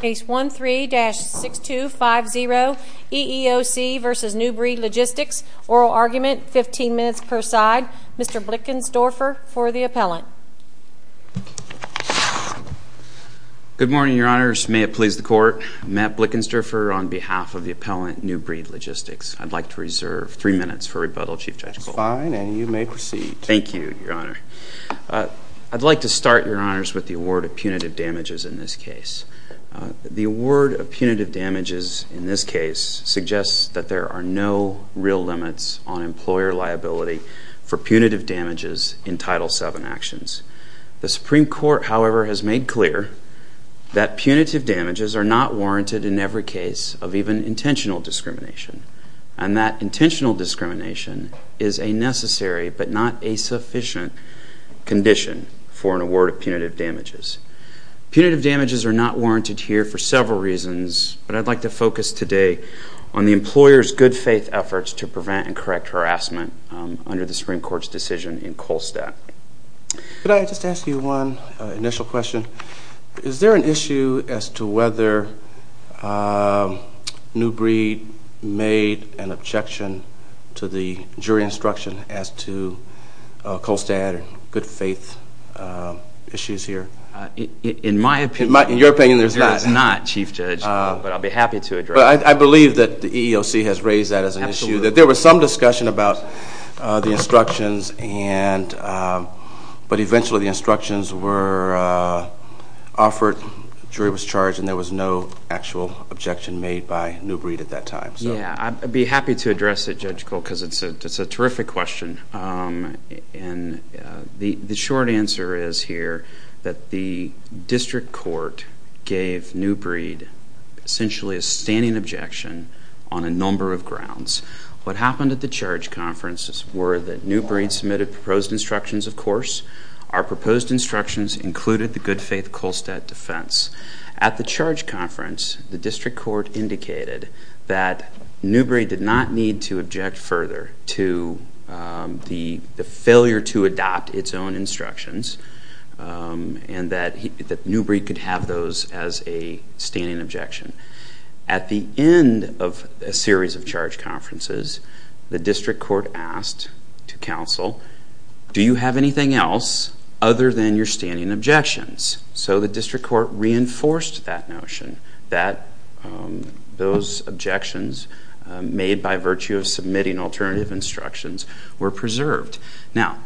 Case 13-6250, EEOC v. New Breed Logistics, oral argument, 15 minutes per side. Mr. Blickensdorfer for the appellant. Good morning, Your Honors. May it please the Court. Matt Blickensdorfer on behalf of the appellant, New Breed Logistics. I'd like to reserve three minutes for rebuttal, Chief Judge Goldberg. That's fine, and you may proceed. Thank you, Your Honor. I'd like to start, Your Honors, with the award of punitive damages in this case. The award of punitive damages in this case suggests that there are no real limits on employer liability for punitive damages in Title VII actions. The Supreme Court, however, has made clear that punitive damages are not warranted in every case of even intentional discrimination, and that intentional discrimination is a necessary but not a sufficient condition for an award of punitive damages. Punitive damages are not warranted here for several reasons, but I'd like to focus today on the employer's good faith efforts to prevent and correct harassment under the Supreme Court's decision in Kolstad. Could I just ask you one initial question? Is there an issue as to whether New Breed made an objection to the jury instruction as to Kolstad good faith issues here? In my opinion, the jury is not, Chief Judge, but I'll be happy to address that. I believe that the EEOC has raised that as an issue, that there was some discussion about the instructions, but eventually the instructions were offered, jury was charged, and there was no actual objection made by New Breed at that time. Yeah, I'd be happy to address it, Judge Cole, because it's a terrific question. And the short answer is here that the district court gave New Breed essentially a standing objection on a number of grounds. What happened at the charge conferences were that New Breed submitted proposed instructions, of course. Our proposed instructions included the good faith Kolstad defense. At the charge conference, the district court indicated that New Breed did not need to object further to the failure to adopt its own instructions, and that New Breed could have those as a standing objection. At the end of a series of charge conferences, the district court asked to counsel, do you have anything else other than your standing objections? So the district court reinforced that notion that those objections made by virtue of submitting alternative instructions were preserved. Now,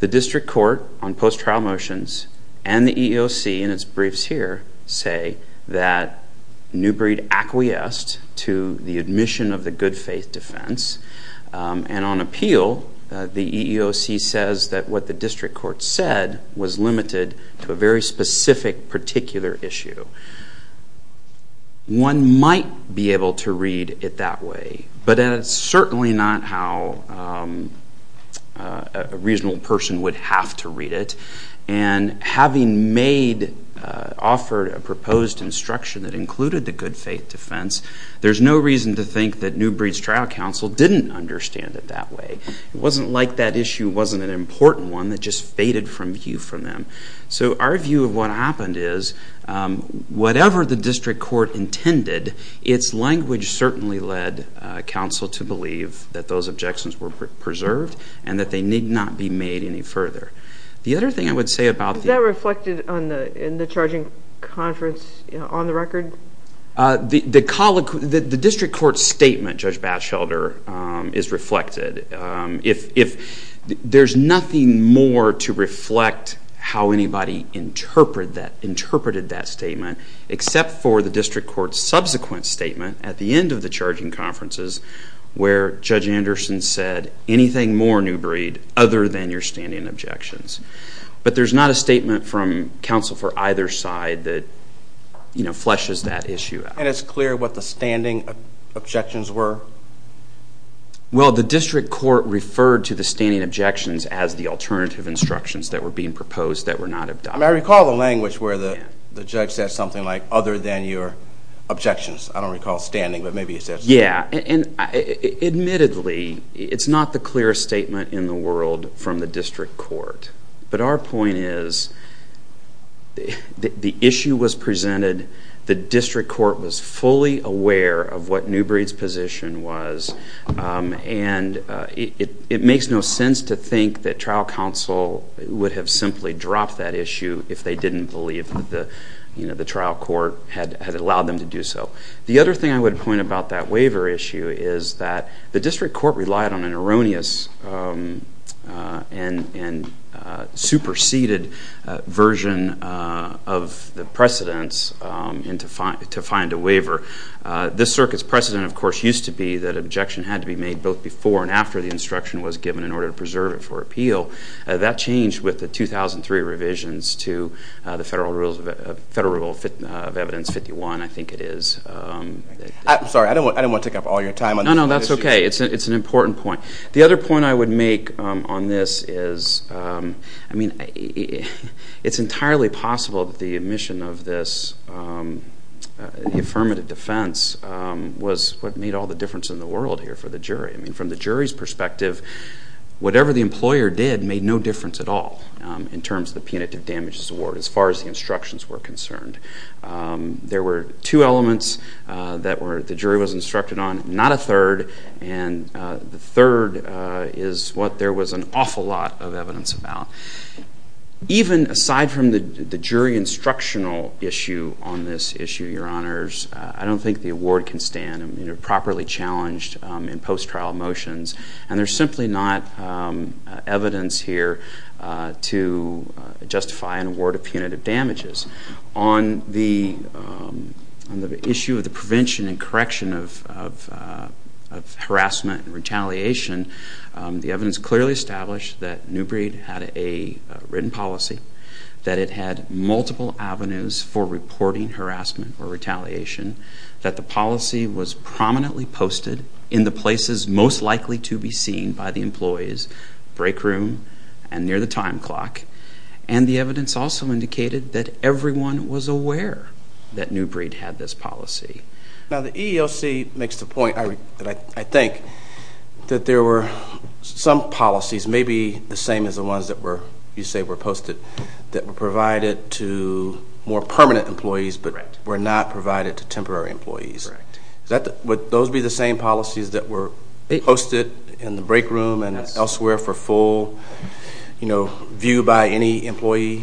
the district court on post-trial motions and the EEOC in its briefs here say that New Breed acquiesced to the admission of the good faith defense. And on appeal, the EEOC says that what the district court said was limited to a very specific particular issue. One might be able to read it that way, but it's certainly not how a reasonable person would have to read it. And having offered a proposed instruction that included the good faith defense, there's no reason to think that New Breed's trial counsel didn't understand it that way. It wasn't like that issue wasn't an important one that just faded from view for them. So our view of what happened is, whatever the district court intended, its language certainly led counsel to believe that those objections were preserved and that they need not be made any further. The other thing I would say about the- Is that reflected in the charging conference on the record? The district court statement, Judge Batchelder, is reflected. If there's nothing more to reflect how anybody interpreted that statement, except for the district court's subsequent statement at the end of the charging conferences where Judge Anderson said, anything more, New Breed, other than your standing objections. But there's not a statement from counsel for either side that fleshes that issue out. And it's clear what the standing objections were? Well, the district court referred to the standing objections as the alternative instructions that were being proposed that were not adopted. I recall the language where the judge said something like, other than your objections. I don't recall standing, but maybe it's just- Yeah, and admittedly, it's not the clearest statement in the world from the district court. But our point is, the issue was presented, the district court was fully aware of what New Breed's position was, and it makes no sense to think that trial counsel would have simply dropped that issue if they didn't believe that the trial court had allowed them to do so. The other thing I would point about that waiver issue is that the district court relied on an erroneous and superseded version of the precedents to find a waiver. This circuit's precedent, of course, used to be that objection had to be made both before and after the instruction was given in order to preserve it for appeal. That changed with the 2003 revisions to the Federal Rule of Evidence 51, I think it is. Sorry, I don't want to take up all your time on this. No, no, that's OK. It's an important point. The other point I would make on this is, I mean, it's entirely possible that the omission of this affirmative defense was what made all the difference in the world here for the jury. I mean, from the jury's perspective, whatever the employer did made no difference at all in terms of the punitive damages award, as far as the instructions were concerned. There were two elements that the jury was instructed on, not a third, and the third is what there was an awful lot of evidence about. Even aside from the jury instructional issue on this issue, Your Honors, I don't think the award can stand properly challenged in post-trial motions. And there's simply not evidence here to justify an award of punitive damages. On the issue of the prevention and correction of harassment and retaliation, the evidence clearly established that Newbreed had a written policy, that it had multiple avenues for reporting harassment or retaliation, that the policy was prominently posted in the places most likely to be seen by the employees, break room and near the time clock. And the evidence also indicated that everyone was aware that Newbreed had this policy. Now, the EEOC makes the point, I think, that there were some policies, maybe the same as the ones that you say were posted, that were provided to more permanent employees, but were not provided to temporary employees. Would those be the same policies that were posted in the break room and elsewhere for full view by any employee?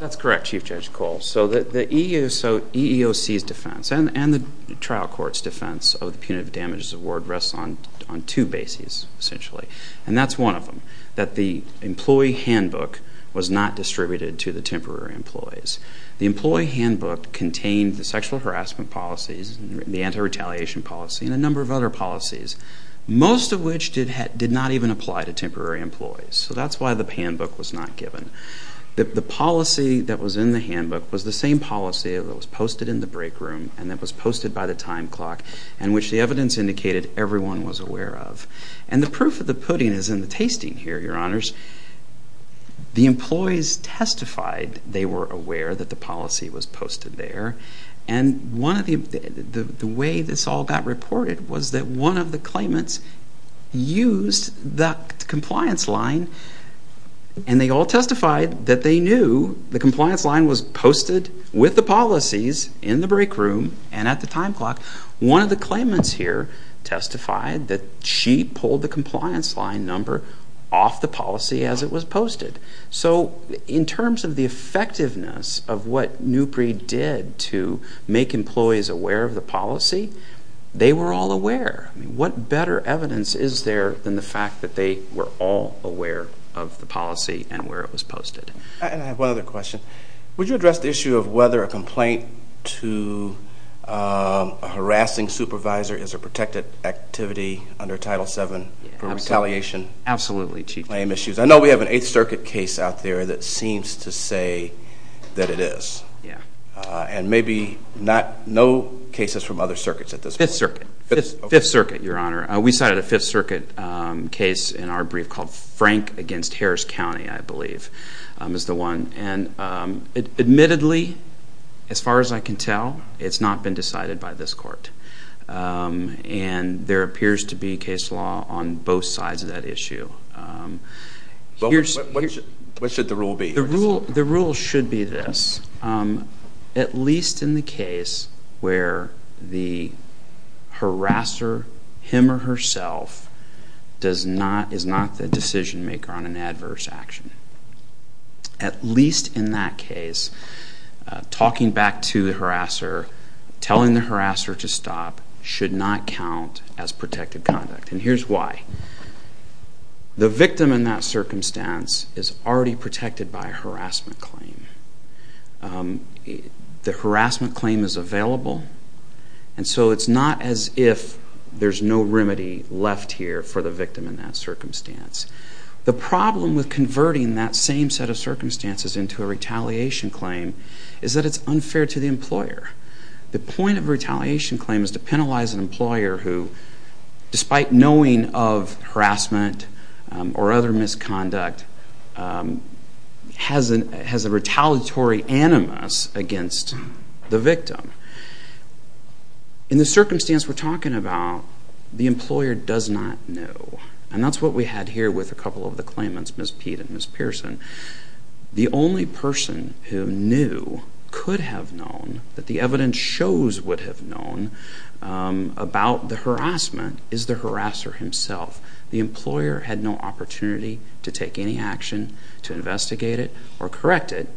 That's correct, Chief Judge Cole. So EEOC's defense and the trial court's defense of the punitive damages award rests on two bases, essentially. And that's one of them, that the employee handbook was not distributed to the temporary employees. The employee handbook contained the sexual harassment policies, the anti-retaliation policy, and a number of other policies, most of which did not even apply to temporary employees. So that's why the handbook was not given. The policy that was in the handbook was the same policy that was posted in the break room and that was posted by the time clock. And which the evidence indicated everyone was aware of. And the proof of the pudding is in the tasting here, Your Honors. The employees testified they were aware that the policy was posted there. And the way this all got reported was that one of the claimants used the compliance line. And they all testified that they knew the compliance line was posted with the policies in the break room and at the time clock. One of the claimants here testified that she pulled the compliance line number off the policy as it was posted. So in terms of the effectiveness of what Newpre did to make employees aware of the policy, they were all aware. What better evidence is there than the fact that they were all aware of the policy and where it was posted? And I have one other question. Would you address the issue of whether a complaint to a harassing supervisor is a protected activity under Title VII for retaliation? Absolutely, Chief. I know we have an Eighth Circuit case out there that seems to say that it is. And maybe no cases from other circuits at this point. Fifth Circuit, Your Honor. We cited a Fifth Circuit case in our brief called Frank against Harris County, I believe, is the one. And admittedly, as far as I can tell, it's not been decided by this court. And there appears to be case law on both sides of that issue. What should the rule be? The rule should be this. At least in the case where the harasser, him or herself, is not the decision maker on an adverse action. At least in that case, talking back to the harasser, telling the harasser to stop, should not count as protected conduct. And here's why. The victim in that circumstance is already protected by a harassment claim. The harassment claim is available. And so it's not as if there's no remedy left here for the victim in that circumstance. The problem with converting that same set of circumstances into a retaliation claim is that it's unfair to the employer. The point of a retaliation claim is to penalize an employer who, despite knowing of harassment or other misconduct, has a retaliatory animus against the victim. In the circumstance we're talking about, the employer does not know. And that's what we had here with a couple of the claimants, Ms. Peet and Ms. Pearson. The only person who knew, could have known, that the evidence shows would have known about the harassment is the harasser himself. The employer had no opportunity to take any action to investigate it or correct it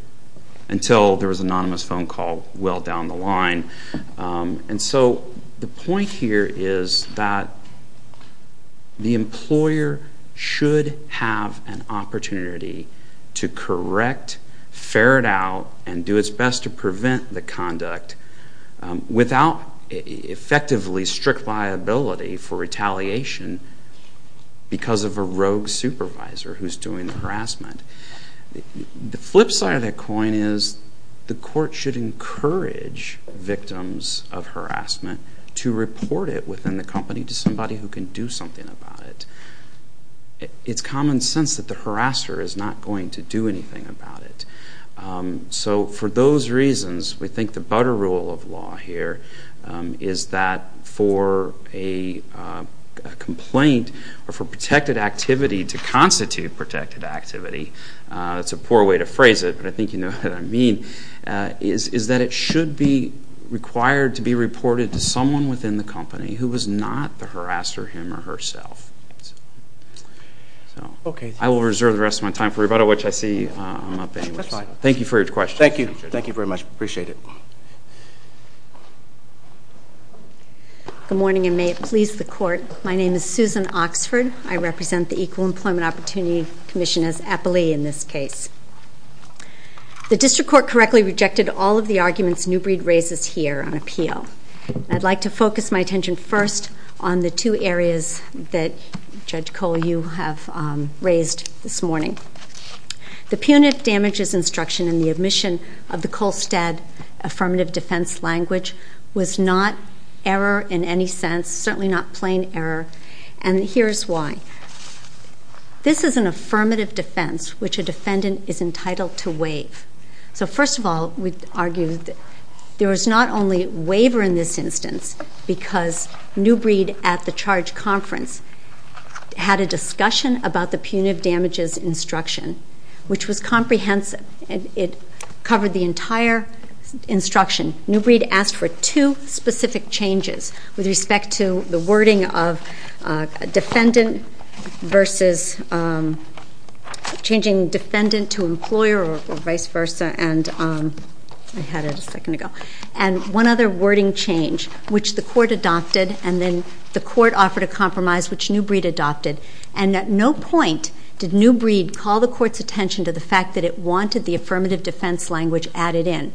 until there was an anonymous phone call well down the line. And so the point here is that the employer should have an opportunity to correct, ferret out, and do its best to prevent the conduct without effectively strict liability for retaliation because of a rogue supervisor who's doing the harassment. The flip side of the coin is the court should encourage victims of harassment to report it within the company to somebody who can do something about it. It's common sense that the harasser is not going to do anything about it. So for those reasons, we think the butter rule of law here is that for a complaint or for protected activity to constitute protected activity, it's a poor way to phrase it, but I think you know what I mean, is that it should be required to be reported to someone within the company who was not the harasser, him or herself. I will reserve the rest of my time for rebuttal, which I see I'm not paying much attention to. Thank you for your question. Thank you. Thank you very much. Appreciate it. Good morning, and may it please the court. My name is Susan Oxford. I represent the Equal Employment Opportunity Commission as appellee in this case. The district court correctly rejected all of the arguments Newbreed raises here on appeal. I'd like to focus my attention first on the two areas that Judge Cole, you have raised this morning. The punitive damages instruction in the admission of the Colstead affirmative defense language was not error in any sense, certainly not plain error. And here's why. This is an affirmative defense, which a defendant is entitled to waive. So first of all, we argue that there was not only waiver in this instance, because Newbreed at the charge conference had a discussion about the punitive damages instruction, which was comprehensive. And it covered the entire instruction. Newbreed asked for two specific changes with respect to the wording of defendant versus changing defendant to employer or vice versa. And I had it a second ago. And one other wording change, which the court adopted. And then the court offered a compromise, which Newbreed adopted. And at no point did Newbreed call the court's attention to the fact that it wanted the affirmative defense language added in.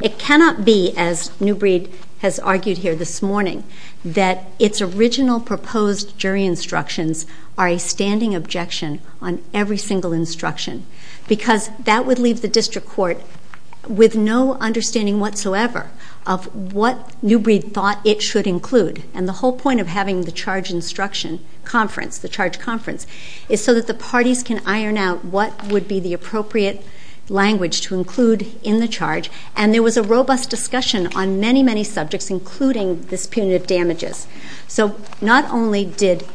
It cannot be, as Newbreed has argued here this morning, that its original proposed jury instructions are a standing objection on every single instruction. Because that would leave the district court with no understanding whatsoever of what Newbreed thought it should include. And the whole point of having the charge instruction conference, the charge conference, is so that the parties can iron out what would be the appropriate language to include in the charge. And there was a robust discussion on many, many subjects, including this punitive damages. So not only did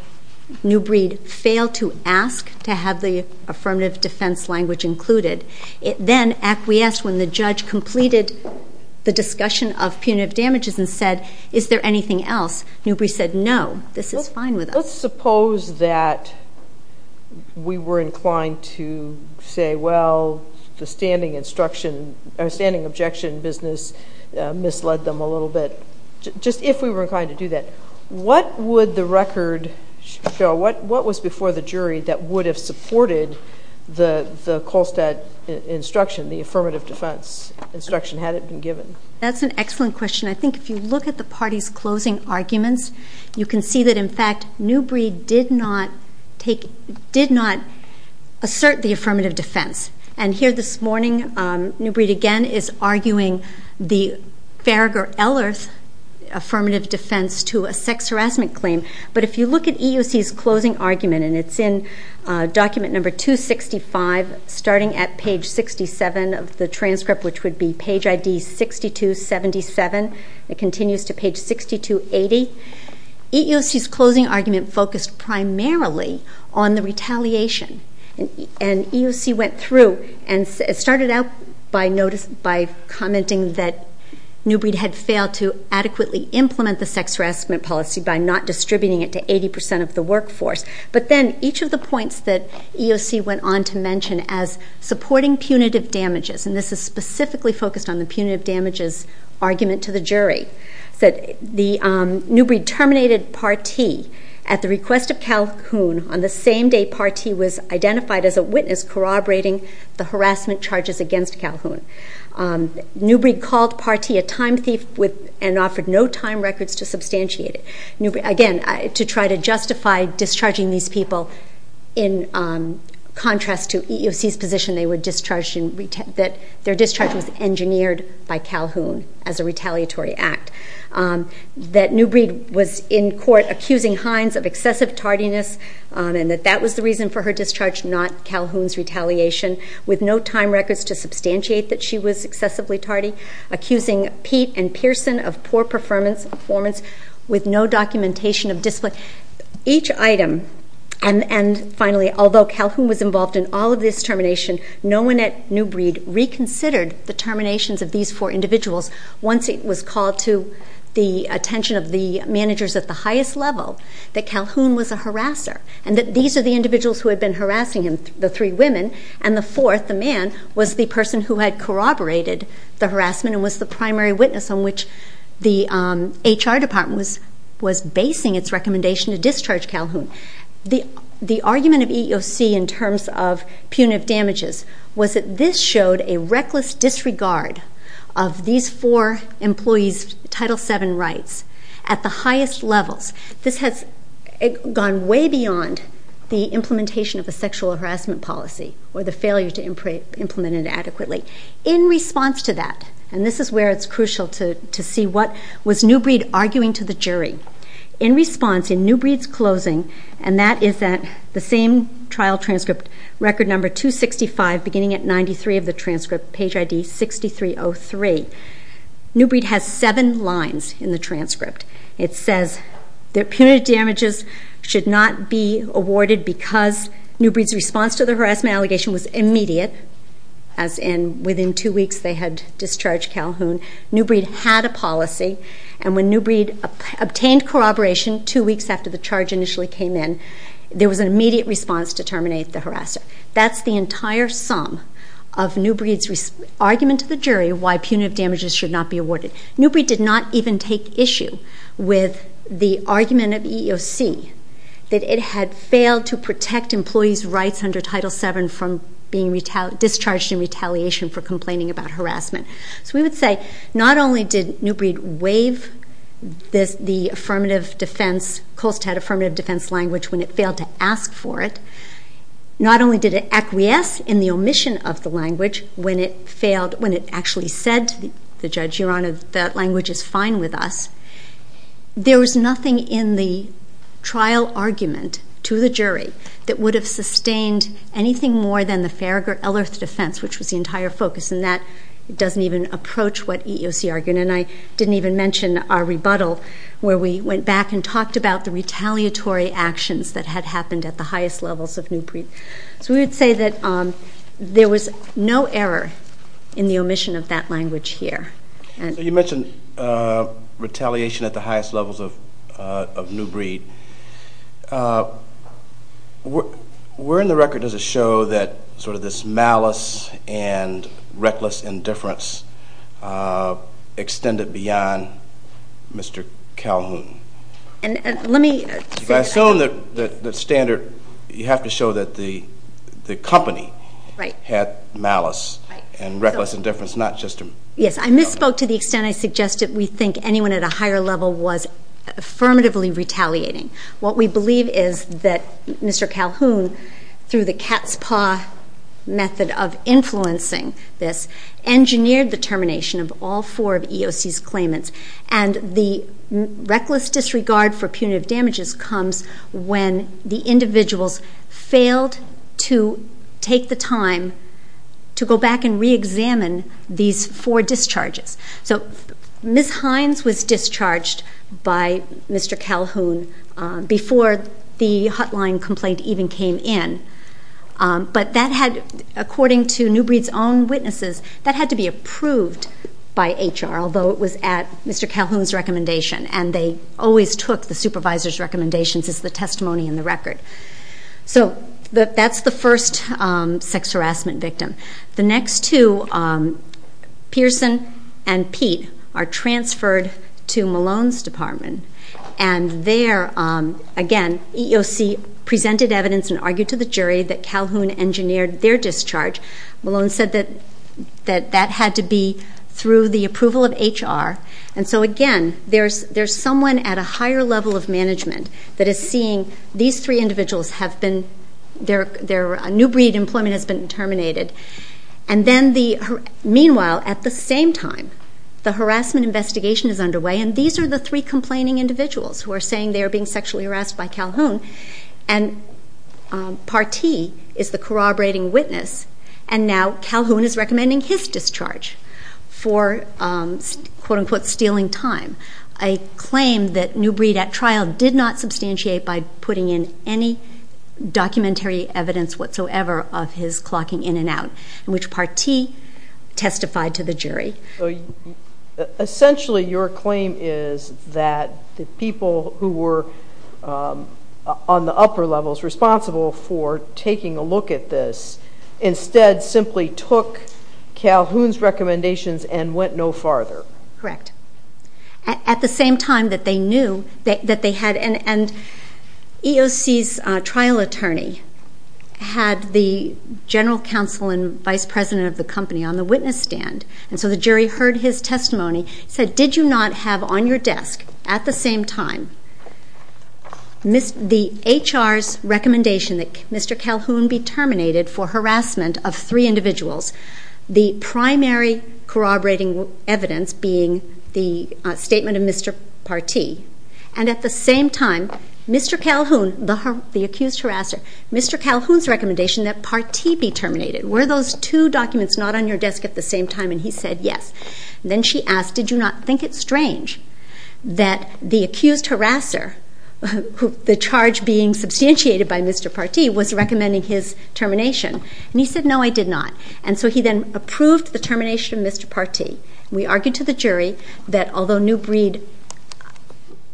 Newbreed fail to ask to have the affirmative defense language included, it then acquiesced when the judge completed the discussion of punitive damages and said, is there anything else? Newbreed said, no, this is fine with us. Let's suppose that we were inclined to say, well, the standing objection business misled them a little bit, just if we were inclined to do that. What would the record show? What was before the jury that would have supported the Kolstad instruction, the affirmative defense instruction, had it been given? That's an excellent question. I think if you look at the party's closing arguments, you can see that, in fact, Newbreed did not assert the affirmative defense. And here this morning, Newbreed, again, is arguing the Farragher-Ellers affirmative defense to a sex harassment claim. But if you look at EEOC's closing argument, and it's in document number 265, starting at page 67 of the transcript, which would be page ID 6277. It continues to page 6280. EEOC's closing argument focused primarily on the retaliation. And EEOC went through and started out by commenting that Newbreed had failed to adequately implement the sex harassment policy by not distributing it to 80% of the workforce. But then each of the points that EEOC went on to mention as supporting punitive damages, and this is specifically focused on the punitive damages argument to the jury, said Newbreed terminated Part T at the request of Calhoun on the same day Part T was identified as a witness corroborating the harassment charges against Calhoun. Newbreed called Part T a time thief and offered no time records to substantiate it. Again, to try to justify discharging these people in contrast to EEOC's position that their discharge was engineered by Calhoun as a retaliatory act. That Newbreed was in court accusing Hines of excessive tardiness and that that was the reason for her discharge, not Calhoun's retaliation, with no time records to substantiate that she was excessively tardy, accusing Pete and Pearson of poor performance with no documentation of discipline. Each item, and finally, although Calhoun was involved in all of this termination, no one at Newbreed reconsidered the terminations of these four individuals once it drew the attention of the managers at the highest level that Calhoun was a harasser and that these are the individuals who had been harassing him, the three women, and the fourth, the man, was the person who had corroborated the harassment and was the primary witness on which the HR department was basing its recommendation to discharge Calhoun. The argument of EEOC in terms of punitive damages was that this showed a reckless disregard of these four employees' Title VII rights at the highest levels. This has gone way beyond the implementation of a sexual harassment policy or the failure to implement it adequately. In response to that, and this is where it's crucial to see what was Newbreed arguing to the jury, in response, in Newbreed's closing, and that is that the same trial transcript, record number 265 beginning at 93 of the transcript, page ID 6303, Newbreed has seven lines in the transcript. It says that punitive damages should not be awarded because Newbreed's response to the harassment allegation was immediate, as in within two weeks they had discharged Calhoun. Newbreed had a policy, and when Newbreed obtained corroboration two weeks after the charge initially came in, there was an immediate response to terminate the harasser. That's the entire sum of Newbreed's argument to the jury why punitive damages should not be awarded. Newbreed did not even take issue with the argument of EEOC that it had failed to protect employees' rights under Title VII from being discharged in retaliation for complaining about harassment. So we would say, not only did Newbreed waive the affirmative defense, Colstead affirmative defense language when it failed to ask for it, not only did it acquiesce in the omission of the language when it failed, when it actually said to the judge, Your Honor, that language is fine with us, there was nothing in the trial argument to the jury that would have sustained anything more than the Farragher-Ellerth defense, which was the entire focus, and that doesn't even approach what EEOC argued, and I didn't even mention our rebuttal where we went back and talked about the retaliatory actions that had happened at the highest levels of Newbreed. So we would say that there was no error in the omission of that language here. You mentioned retaliation at the highest levels of Newbreed. Where in the record does it show that sort of this malice and reckless indifference extended beyond Mr. Calhoun? And let me. If I assume that standard, you have to show that the company had malice and reckless indifference, not just a- Yes, I misspoke to the extent I suggested we think anyone at a higher level was affirmatively retaliating. What we believe is that Mr. Calhoun, through the cat's paw method of influencing this, engineered the termination of all four of EEOC's claimants, and the reckless disregard for punitive damages comes when the individuals failed to take the time to go back and re-examine these four discharges. So Ms. Hines was discharged by Mr. Calhoun before the hotline complaint even came in, but that had, according to Newbreed's own witnesses, that had to be approved by HR, although it was at Mr. Calhoun's recommendation, and they always took the supervisor's recommendations as the testimony in the record. So that's the first sex harassment victim. The next two, Pearson and Pete, are transferred to Malone's department, and there, again, EEOC presented evidence and argued to the jury that Calhoun engineered their discharge. Malone said that that had to be through the approval of HR, and so again, there's someone at a higher level of management that is seeing these three individuals have been, their Newbreed employment has been terminated, and then the, meanwhile, at the same time, the harassment investigation is underway, and these are the three complaining individuals who are saying they are being sexually harassed by Calhoun, and Partee is the corroborating witness, and now Calhoun is recommending his discharge for, quote-unquote, stealing time. I claim that Newbreed, at trial, did not substantiate by putting in any documentary evidence whatsoever of his clocking in and out, which Partee testified to the jury. Essentially, your claim is that the people who were on the upper levels responsible for taking a look at this instead simply took Calhoun's recommendations and went no farther. Correct. At the same time that they knew that they had, and EOC's trial attorney had the general counsel and vice president of the company on the witness stand, and so the jury heard his testimony, said, did you not have on your desk, at the same time, the HR's recommendation that Mr. Calhoun be terminated for harassment of three individuals, the primary corroborating evidence being the statement of Mr. Partee, and at the same time, Mr. Calhoun, the accused harasser, Mr. Calhoun's recommendation that Partee be terminated. Were those two documents not on your desk at the same time, and he said yes. Then she asked, did you not think it strange that the accused harasser, the charge being substantiated by Mr. Partee, was recommending his termination, and he said, no, I did not, and so he then approved the termination of Mr. Partee. We argued to the jury that although Newbreed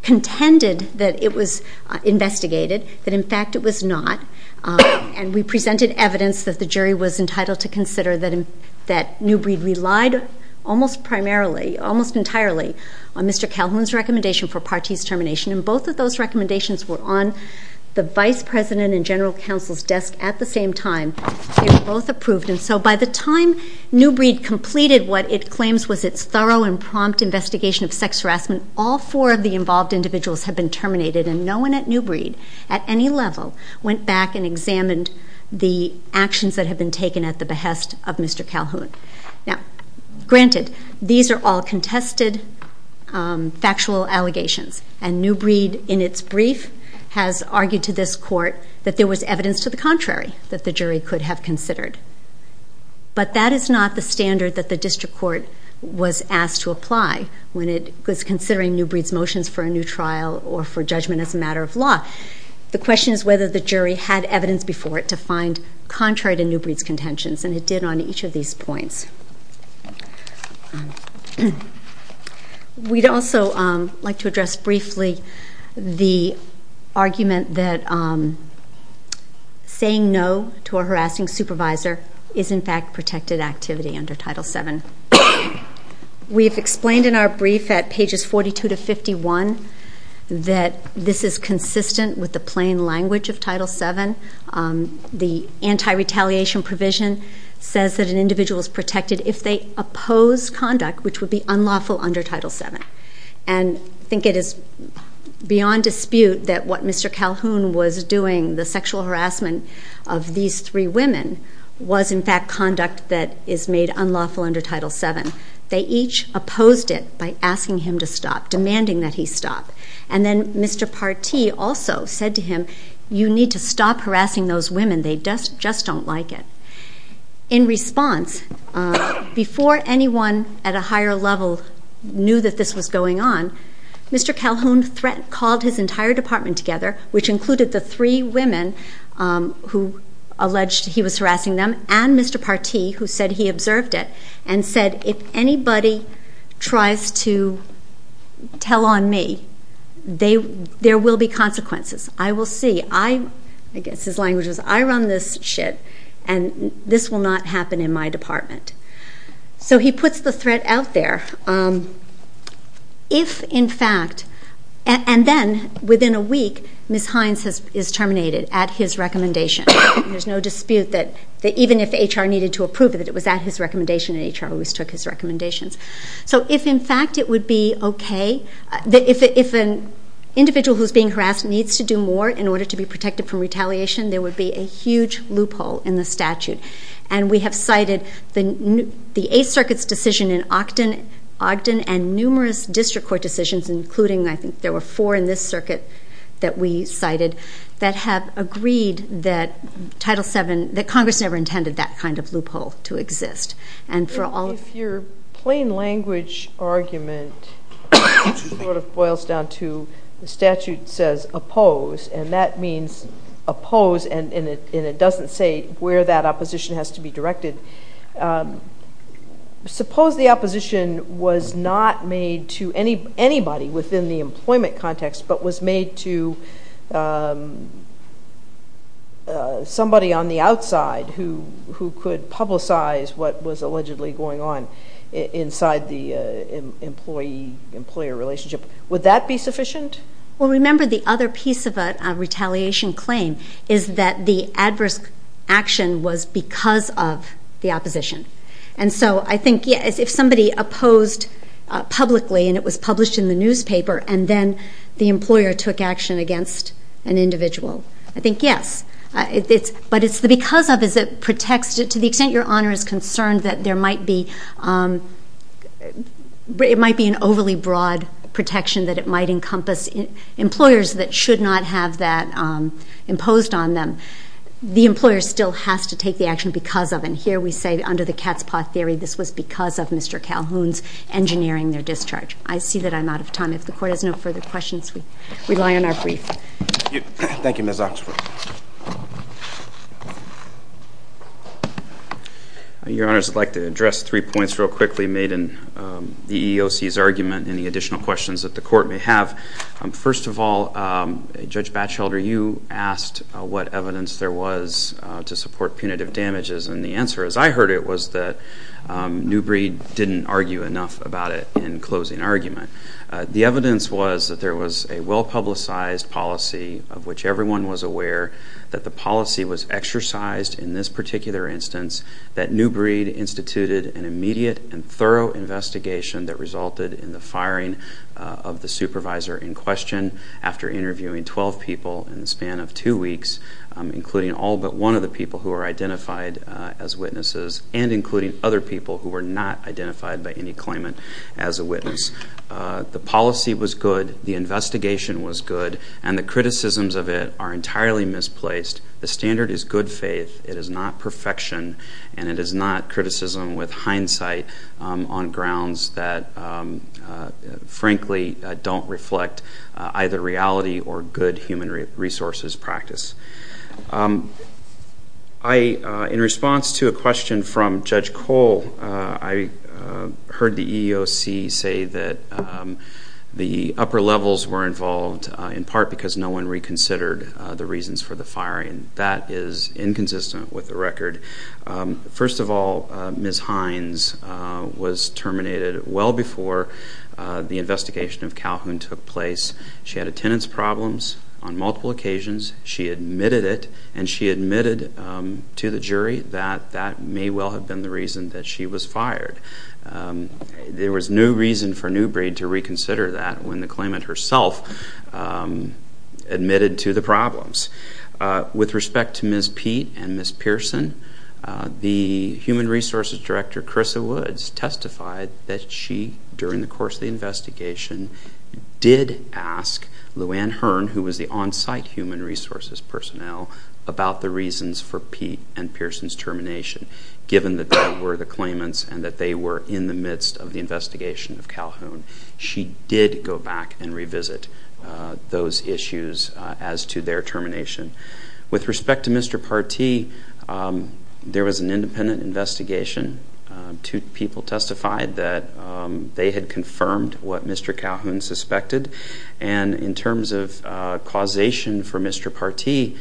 contended that it was investigated, that in fact it was not, and we presented evidence that the jury was entitled to consider that Newbreed relied almost primarily, almost entirely, on Mr. Calhoun's recommendation for Partee's termination, and both of those recommendations were on the Vice President and General Counsel's desk at the same time. They were both approved, and so by the time Newbreed completed what it claims was its thorough and prompt investigation of sex harassment, all four of the involved individuals had been terminated, and no one at Newbreed, at any level, went back and examined the actions that had been taken at the behest of Mr. Calhoun. Now, granted, these are all contested factual allegations, and Newbreed, in its brief, has argued to this court that there was evidence to the contrary that the jury could have considered, but that is not the standard that the district court was asked to apply when it was considering Newbreed's motions for a new trial or for judgment as a matter of law. The question is whether the jury had evidence before it to find contrary to Newbreed's contentions, and it did on each of these points. We'd also like to address briefly the argument that saying no to a harassing supervisor is, in fact, protected activity under Title VII. We've explained in our brief at pages 42 to 51 that this is consistent with the plain language of Title VII. The anti-retaliation provision says that an individual is protected if they oppose conduct, which would be unlawful under Title VII, and I think it is beyond dispute that what Mr. Calhoun was doing, the sexual harassment of these three women, was, in fact, conduct that is made unlawful under Title VII. They each opposed it by asking him to stop, demanding that he stop, and then Mr. Partee also said to him, you need to stop harassing those women. They just don't like it. In response, before anyone at a higher level knew that this was going on, Mr. Calhoun called his entire department together, which included the three women who alleged he was harassing them and Mr. Partee, who said he observed it, and said, if anybody tries to tell on me, there will be consequences. I will see. I guess his language was, I run this shit, and this will not happen in my department. So, he puts the threat out there. If, in fact, and then, within a week, Ms. Hines is terminated at his recommendation. There's no dispute that even if HR needed to approve it, it was at his recommendation, and HR always took his recommendations. So, if, in fact, it would be okay, if an individual who's being harassed needs to do more in order to be protected from retaliation, there would be a huge loophole in the statute, and we have cited the Eighth Circuit's decision in Ogden and numerous district court decisions, including, I think, there were four in this circuit that we cited, that have agreed that Title VII, that Congress never intended that kind of loophole to exist, and for all- If your plain language argument sort of boils down to the statute says oppose, and that means oppose, and it doesn't say where that opposition has to be directed, suppose the opposition was not made to anybody within the employment context, but was made to somebody on the outside who could publicize what was allegedly going on inside the employee-employer relationship. Would that be sufficient? Well, remember, the other piece of a retaliation claim is that the adverse action was because of the opposition, and so I think, yeah, if somebody opposed publicly, and it was published in the newspaper, and then the employer took action against an individual, I think, yes, but it's the because of, is it protects, to the extent your honor is concerned that there might be, it might be an overly broad protection that it might encompass employers that should not have that imposed on them, the employer still has to take the action because of, and here we say, under the cat's paw theory, this was because of Mr. Calhoun's engineering their discharge. I see that I'm out of time. If the court has no further questions, we rely on our brief. Thank you, Ms. Oxford. Your honors, I'd like to address three points real quickly made in the EEOC's argument, any additional questions that the court may have. First of all, Judge Batchelder, you asked what evidence there was to support punitive damages, and the answer, as I heard it, was that Newbreed didn't argue enough about it in closing argument. The evidence was that there was a well-publicized policy of which everyone was aware, that the policy was exercised in this particular instance, that Newbreed instituted an immediate and thorough investigation that resulted in the firing of the supervisor in question after interviewing 12 people in the span of two weeks, including all but one of the people who were identified as witnesses, and including other people who were not identified by any claimant as a witness. The policy was good, the investigation was good, and the criticisms of it are entirely misplaced. The standard is good faith, it is not perfection, and it is not criticism with hindsight on grounds that, frankly, don't reflect either reality or good human resources practice. In response to a question from Judge Cole, I heard the EEOC say that the upper levels were involved, in part because no one reconsidered the reasons for the firing. That is inconsistent with the record. First of all, Ms. Hines was terminated well before the investigation of Calhoun took place. She had attendance problems on multiple occasions, she admitted it, and she admitted to the jury that that may well have been the reason that she was fired. There was no reason for Newbreed to reconsider that when the claimant herself admitted to the problems. With respect to Ms. Peet and Ms. Pearson, the Human Resources Director, Carissa Woods, testified that she, during the course of the investigation, did ask Lou Anne Hearn, who was the on-site human resources personnel, about the reasons for Peet and Pearson's termination, given that they were the claimants and that they were in the midst of the investigation of Calhoun. She did go back and revisit those issues as to their termination. With respect to Mr. Partee, there was an independent investigation. Two people testified that they had confirmed what Mr. Calhoun suspected. And in terms of causation for Mr. Partee,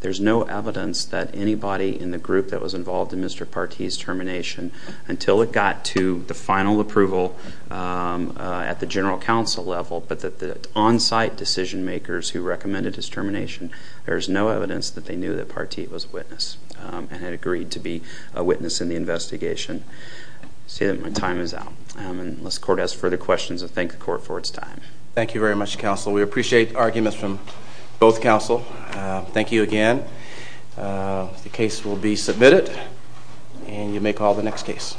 there's no evidence that anybody in the group that was involved in Mr. Partee's termination, until it got to the final approval at the general counsel level, but that the on-site decision makers who recommended his termination, there's no evidence that they knew that Partee was a witness and had agreed to be a witness in the investigation. So my time is out. Unless the court has further questions, I thank the court for its time. Thank you very much, counsel. We appreciate arguments from both counsel. Thank you again. The case will be submitted, and you may call the next case.